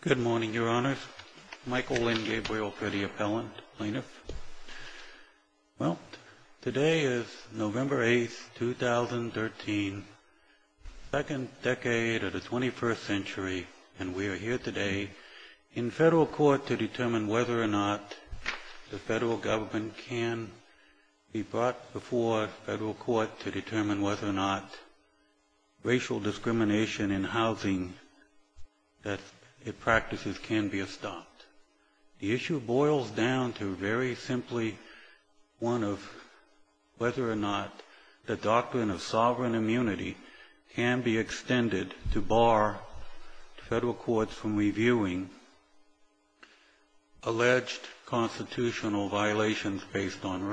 Good morning, Your Honors. Michael Lynn Gabriel for the Appellant. Today is November 8, 2013, the second decade of the 21st century, and we are here today in federal court to determine whether or not the federal government can be brought before federal court to determine whether or not racial discrimination in housing practices can be stopped. The issue boils down to very simply one of whether or not the doctrine of sovereign immunity can be extended to bar federal courts from reviewing alleged constitutional violations based on the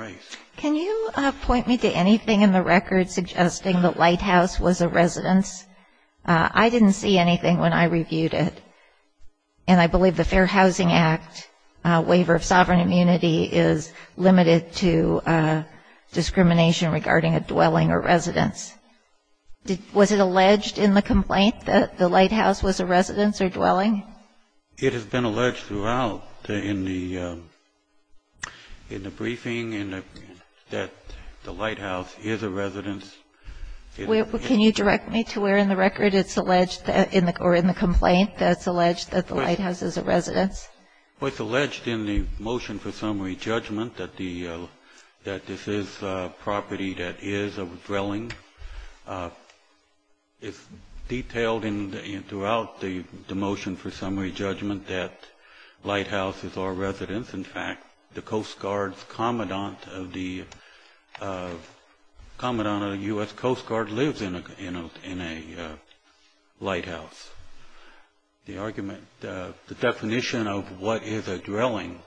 lighthouse was a residence. I didn't see anything when I reviewed it, and I believe the Fair Housing Act waiver of sovereign immunity is limited to discrimination regarding a dwelling or residence. Was it alleged in the complaint that the lighthouse was a residence or dwelling? It has been alleged throughout in the briefing that the lighthouse is a residence. Can you direct me to where in the record it's alleged or in the complaint that it's alleged that the lighthouse is a residence? Well, it's alleged in the motion for summary judgment that this is property that is a dwelling. It's detailed throughout the motion for summary judgment that lighthouse is our residence. In fact, the Coast Guard's commandant of the U.S. Coast Guard lives in a lighthouse. The argument, the definition of what is a dwelling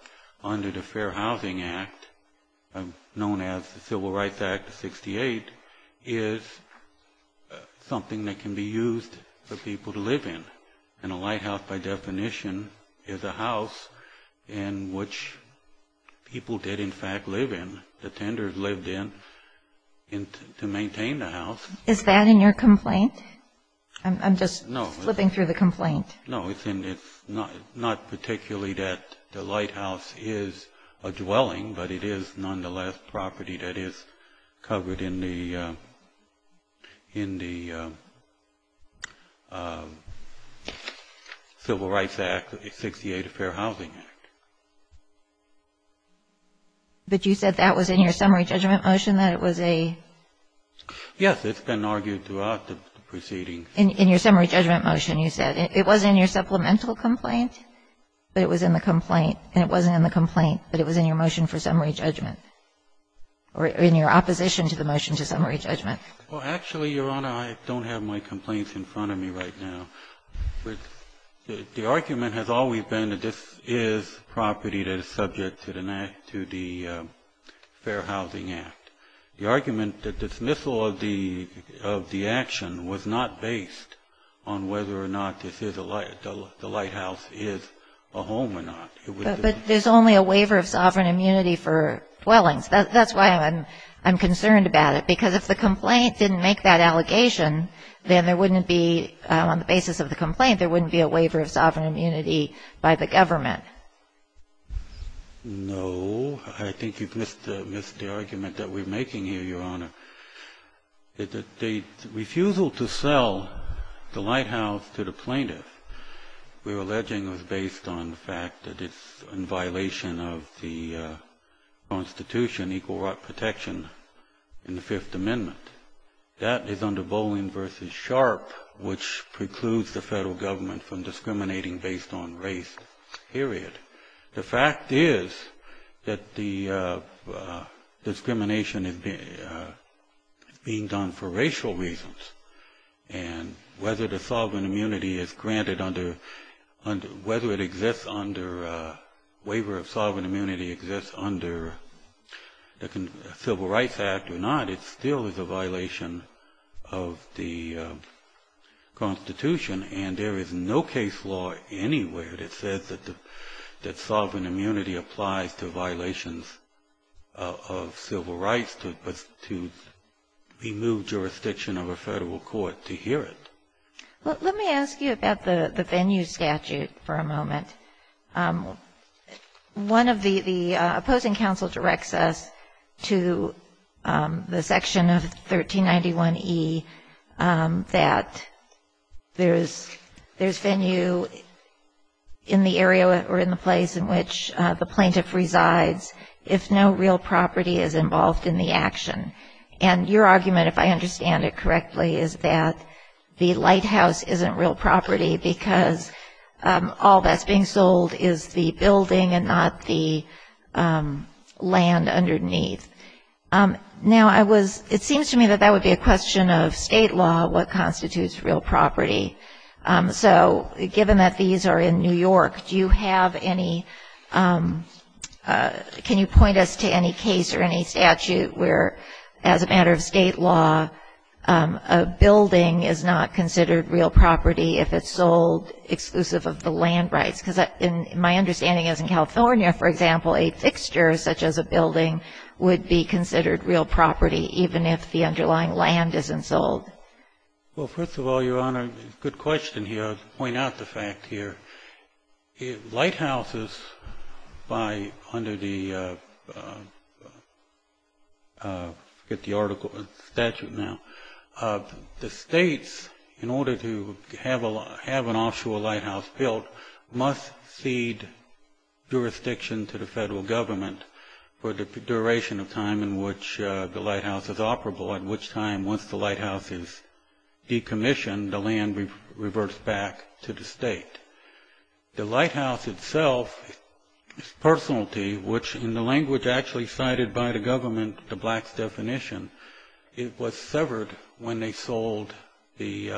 under the Fair Housing Act, known as the Civil Rights Act of 1968, is something that can be used for people to live in. And a lighthouse, by definition, is a house in which people did, in fact, live in. The tenders lived in to maintain the house. Is that in your complaint? I'm just flipping through the complaint. No, it's not particularly that the lighthouse is a dwelling, but it is nonetheless property that is covered in the Civil Rights Act, the 1968 Fair Housing Act. But you said that was in your summary judgment motion that it was a? Yes, it's been argued throughout the proceedings. In your summary judgment motion, you said it was in your supplemental complaint, but it was in the complaint, and it wasn't in the complaint, but it was in your motion for summary judgment, or in your opposition to the motion to summary judgment. Well, actually, Your Honor, I don't have my complaints in front of me right now. The argument has always been that this is property that is subject to the Fair Housing Act. The argument that dismissal of the action was not based on whether or not the lighthouse is a home or not. But there's only a waiver of sovereign immunity for dwellings. That's why I'm concerned about it, because if the complaint didn't make that allegation, then there wouldn't be, on the basis of the complaint, there wouldn't be a waiver of sovereign immunity by the government. No, I think you've missed the argument that we're making here, Your Honor. The refusal to sell the lighthouse to the plaintiff we're alleging was based on the fact that it's in violation of the Constitution, equal right protection in the Fifth Amendment. That is under Bolin v. Sharp, which precludes the federal government from discriminating based on race. Period. The fact is that the discrimination is being done for racial reasons. And whether the sovereign immunity is granted under, whether it exists under, waiver of sovereign immunity exists under the Civil Rights Act or not, it still is a violation of the Constitution. And there is no case law anywhere that says that sovereign immunity applies to violations of civil rights to remove jurisdiction of a federal court to hear it. Let me ask you about the venue statute for a moment. One of the, the opposing counsel directs us to the section of 1391E that there's venue in the area or in the place in which the plaintiff resides if no real property is involved in the action. And your argument, if I understand it correctly, is that the lighthouse isn't real property because all that's being sold is the building and not the land underneath. Now, I was, it seems to me that that would be a question of state law, what constitutes real property. So, given that these are in New York, do you have any, can you point us to any case or any statute where, as a matter of state law, a building is not considered real property if it's sold exclusive of the land rights? Because my understanding is in California, for example, a fixture such as a building would be considered real property even if the underlying land isn't sold. Well, first of all, Your Honor, good question here. I'll point out the fact here. Lighthouses by, under the, I forget the article, statute now, the states, in order to have an offshore lighthouse built, must cede jurisdiction to the federal government for the duration of time in which the lighthouse is operable, at which time, once the lighthouse is decommissioned, the land reverts back to the state. The lighthouse itself, its personality, which in the language actually cited by the government, the blacks' definition, it was severed when they sold the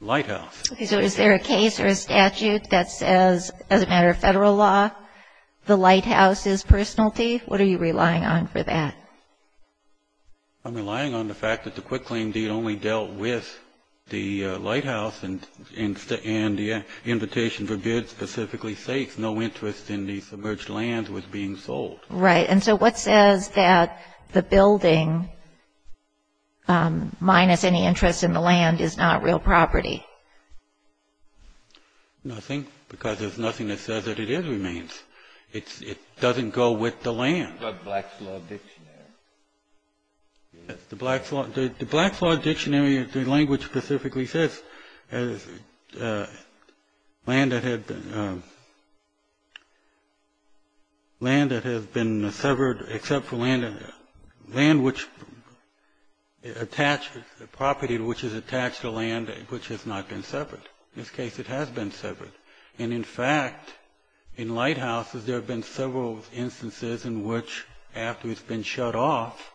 lighthouse. Okay, so is there a case or a statute that says, as a matter of federal law, the lighthouse is personality? What are you relying on for that? I'm relying on the fact that the QuickClaim Deed only dealt with the lighthouse and the Invitation for Good specifically states no interest in the submerged land was being sold. Right, and so what says that the building, minus any interest in the land, is not real property? Nothing, because there's nothing that says that it is remains. It doesn't go with the land. What about the Blacks' Law Dictionary? Yes, the Blacks' Law Dictionary, the language specifically says, land that has been severed, except for land which, property which is attached to land which has not been severed. In this case, it has been severed, and in fact, in lighthouses, there have been several instances in which, after it's been shut off,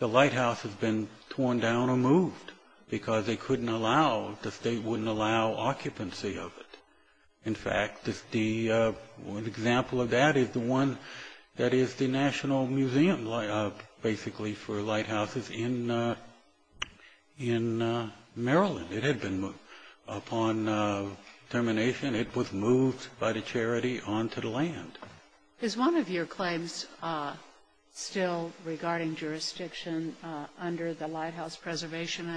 the lighthouse has been torn down or moved, because they couldn't allow, the state wouldn't allow occupancy of it. In fact, the example of that is the one that is the National Museum, basically, for lighthouses in Maryland. It had been, upon termination, it was moved by the charity onto the land. Is one of your claims still regarding jurisdiction under the Lighthouse Preservation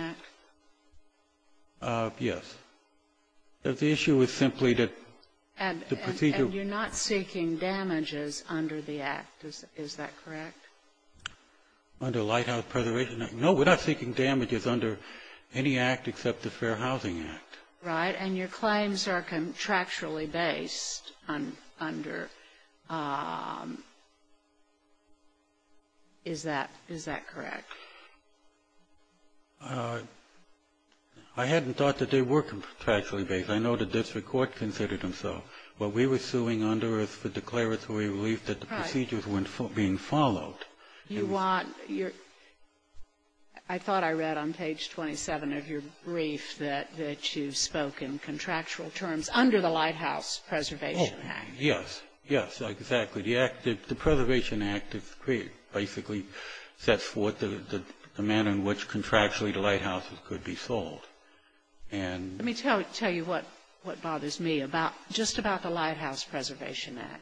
Act? Yes. The issue is simply that the procedure... And you're not seeking damages under the act, is that correct? Under Lighthouse Preservation Act? No, we're not seeking damages under any act except the Fair Housing Act. Right, and your claims are contractually based under... Is that correct? I hadn't thought that they were contractually based. I know the district court considered them so, but we were suing Under Earth for declaratory relief that the procedures weren't being followed. You want... I thought I read on page 27 of your brief that you spoke in contractual terms under the Lighthouse Preservation Act. Oh, yes, yes, exactly. The Preservation Act, basically, sets forth the manner in which contractually the lighthouses could be sold. Let me tell you what bothers me just about the Lighthouse Preservation Act.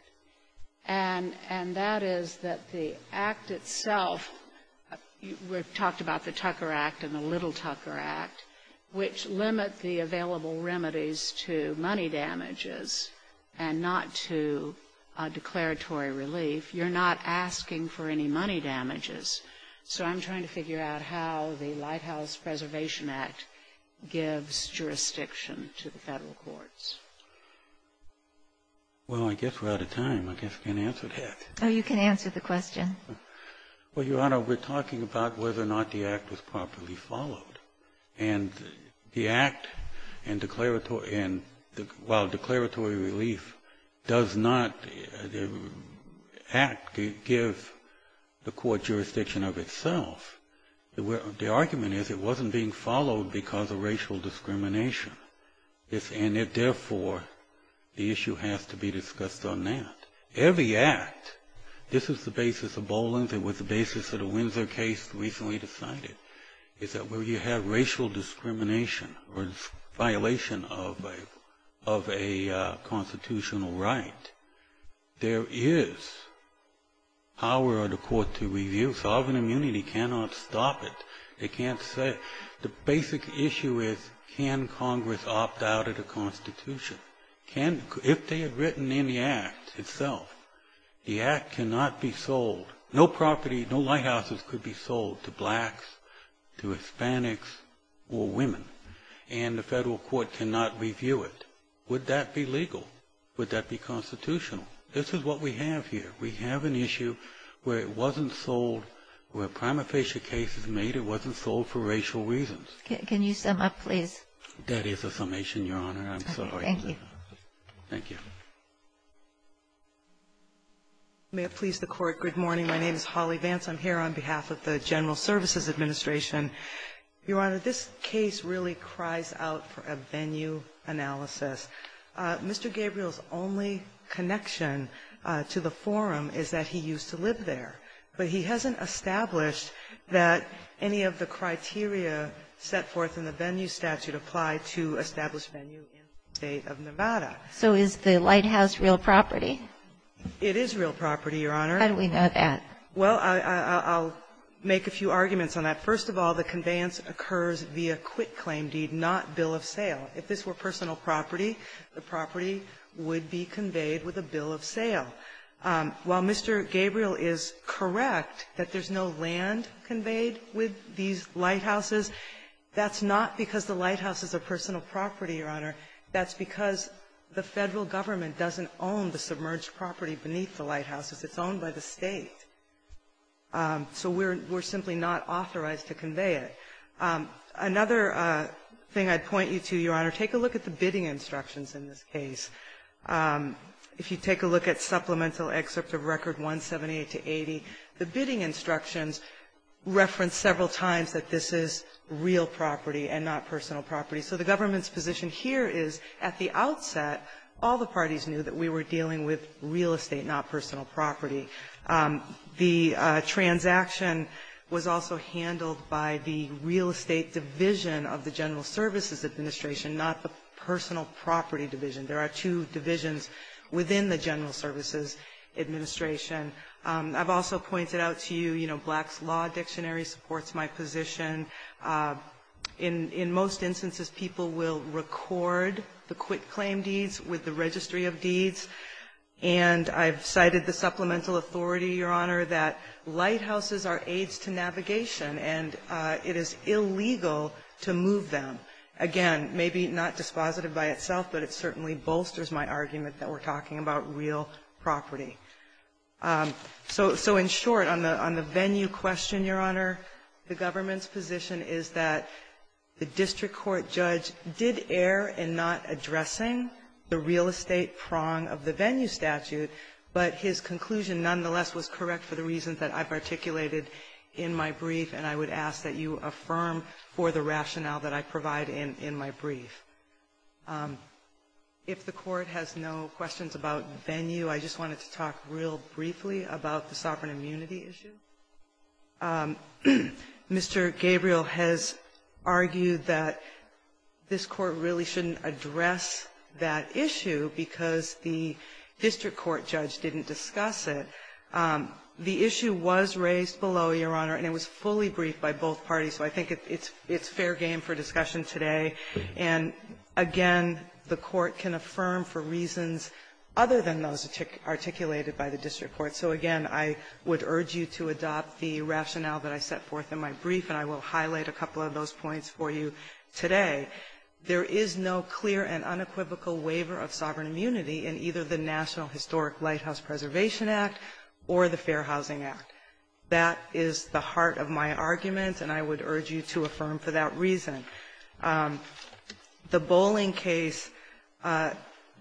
And that is that the act itself, we've talked about the Tucker Act and the Little Tucker Act, which limit the available remedies to money damages and not to declaratory relief. You're not asking for any money damages. So I'm trying to figure out how the Lighthouse Preservation Act gives jurisdiction to the federal courts. Well, I guess we're out of time. I guess I can't answer that. Oh, you can answer the question. Well, Your Honor, we're talking about whether or not the act was properly followed. And the act and declaratory... Well, declaratory relief does not... The act gives the court jurisdiction of itself. The argument is it wasn't being followed because of racial discrimination. And therefore, the issue has to be discussed on that. Every act, this is the basis of Boland, it was the basis of the Windsor case recently decided, is that where you have racial discrimination or violation of a constitutional right, there is power of the court to review. Sovereign immunity cannot stop it. They can't say... The basic issue is can Congress opt out of the Constitution? If they had written in the act itself, the act cannot be sold. No property, no lighthouses could be sold to blacks, to Hispanics, or women. And the federal court cannot review it. Would that be legal? Would that be constitutional? This is what we have here. We have an issue where it wasn't sold, where a prima facie case was made, it wasn't sold for racial reasons. Can you sum up, please? That is a summation, Your Honor. I'm sorry. Thank you. Thank you. May it please the Court. Good morning. My name is Holly Vance. I'm here on behalf of the General Services Administration. Your Honor, this case really cries out for a venue analysis. Mr. Gabriel's only connection to the forum is that he used to live there. But he hasn't established that any of the criteria set forth in the venue statute apply to established venue in the State of Nevada. So is the lighthouse real property? It is real property, Your Honor. How do we know that? Well, I'll make a few arguments on that. First of all, the conveyance occurs via quick claim deed, not bill of sale. If this were personal property, the property would be conveyed with a bill of sale. While Mr. Gabriel is correct that there's no land conveyed with these lighthouses, that's not because the lighthouse is a personal property, Your Honor. That's because the Federal Government doesn't own the submerged property beneath the lighthouses. It's owned by the State. So we're simply not authorized to convey it. Another thing I'd point you to, Your Honor, take a look at the bidding instructions in this case. If you take a look at Supplemental Excerpt of Record 178-80, the bidding instructions reference several times that this is real property and not personal property. So the government's position here is at the outset, all the parties knew that we were dealing with real estate, not personal property. The transaction was also handled by the real estate division of the General Services Administration, not the personal property division. There are two divisions within the General Services Administration. I've also pointed out to you, Black's Law Dictionary supports my position. In most instances, people will record the quitclaim deeds with the Registry of Deeds. And I've cited the Supplemental Authority, Your Honor, that lighthouses are aids to navigation and it is illegal to move them. Again, maybe not dispositive by itself, but it certainly bolsters my argument that we're talking about real property. So in short, on the venue question, Your Honor, the government's position is that the district court judge did err in not addressing the real estate prong of the venue statute, but his conclusion nonetheless was correct for the reasons that I've articulated in my brief, and I would ask that you affirm for the rationale that I provide in my brief. If the Court has no questions about the venue, I just wanted to talk real briefly about the sovereign immunity issue. Mr. Gabriel has argued that this Court really shouldn't address that issue because the district court judge didn't discuss it. The issue was raised below, Your Honor, and it was fully briefed by both parties, so I think it's fair game for discussion today. And again, the Court can affirm for reasons other than those articulated by the district court. So again, I would urge you to adopt the rationale that I set forth in my brief, and I will highlight a couple of those points for you today. There is no clear and unequivocal waiver of sovereign immunity in either the National Historic Lighthouse Preservation Act or the Fair Housing Act. That is the heart of my argument, and I would urge you to affirm for that reason. The Boling case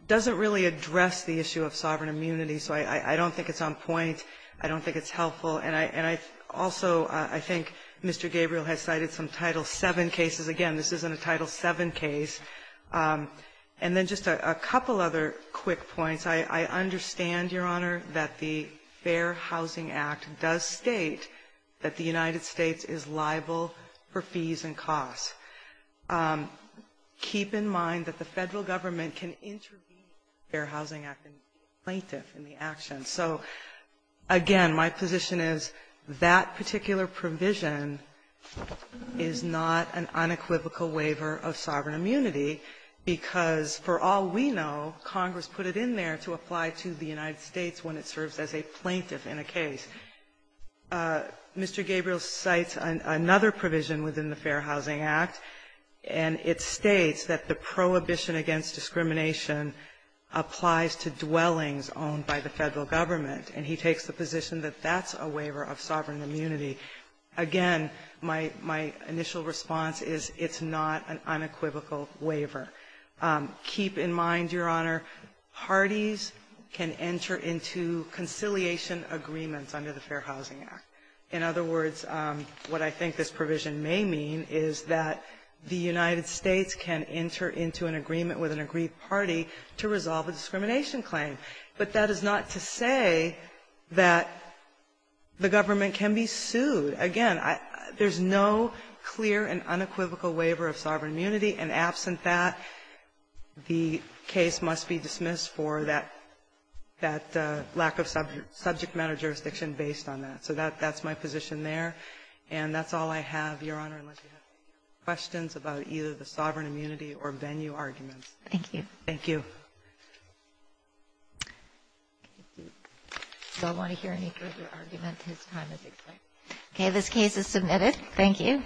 doesn't really address the issue of sovereign immunity, so I don't think it's on point. I don't think it's helpful, and I also think Mr. Gabriel has cited some Title VII cases. Again, this isn't a Title VII case. And then just a couple other quick points. I understand, Your Honor, that the Fair Housing Act does state that the United States is liable for fees and costs. Keep in mind that the Federal Government can intervene in the Fair Housing Act and be a plaintiff in the action. So again, my position is that particular provision is not an unequivocal waiver of sovereign immunity, because for all we know, Congress put it in there to apply to the United States when it serves as a plaintiff in a case. Mr. Gabriel cites another provision within the Fair Housing Act, and it states that the prohibition against discrimination applies to dwellings owned by the Federal Government, and he takes the position that that's a waiver of sovereign immunity. Again, my initial response is, it's not an unequivocal waiver. Keep in mind, Your Honor, parties can enter into conciliation agreements under the Fair Housing Act. In other words, what I think this provision may mean is that the United States can enter into an agreement with an agreed party to resolve a discrimination claim. But that is not to say that the government can be sued. Again, there's no clear and unequivocal waiver of sovereign immunity, and absent that, the case must be dismissed for that lack of subject matter jurisdiction based on that. So that's my position there, and that's all I have, Your Honor, unless you have any questions about either the sovereign immunity or venue arguments. Thank you. Thank you. If y'all want to hear any further argument, his time has expired. Okay. This case is submitted. Thank you.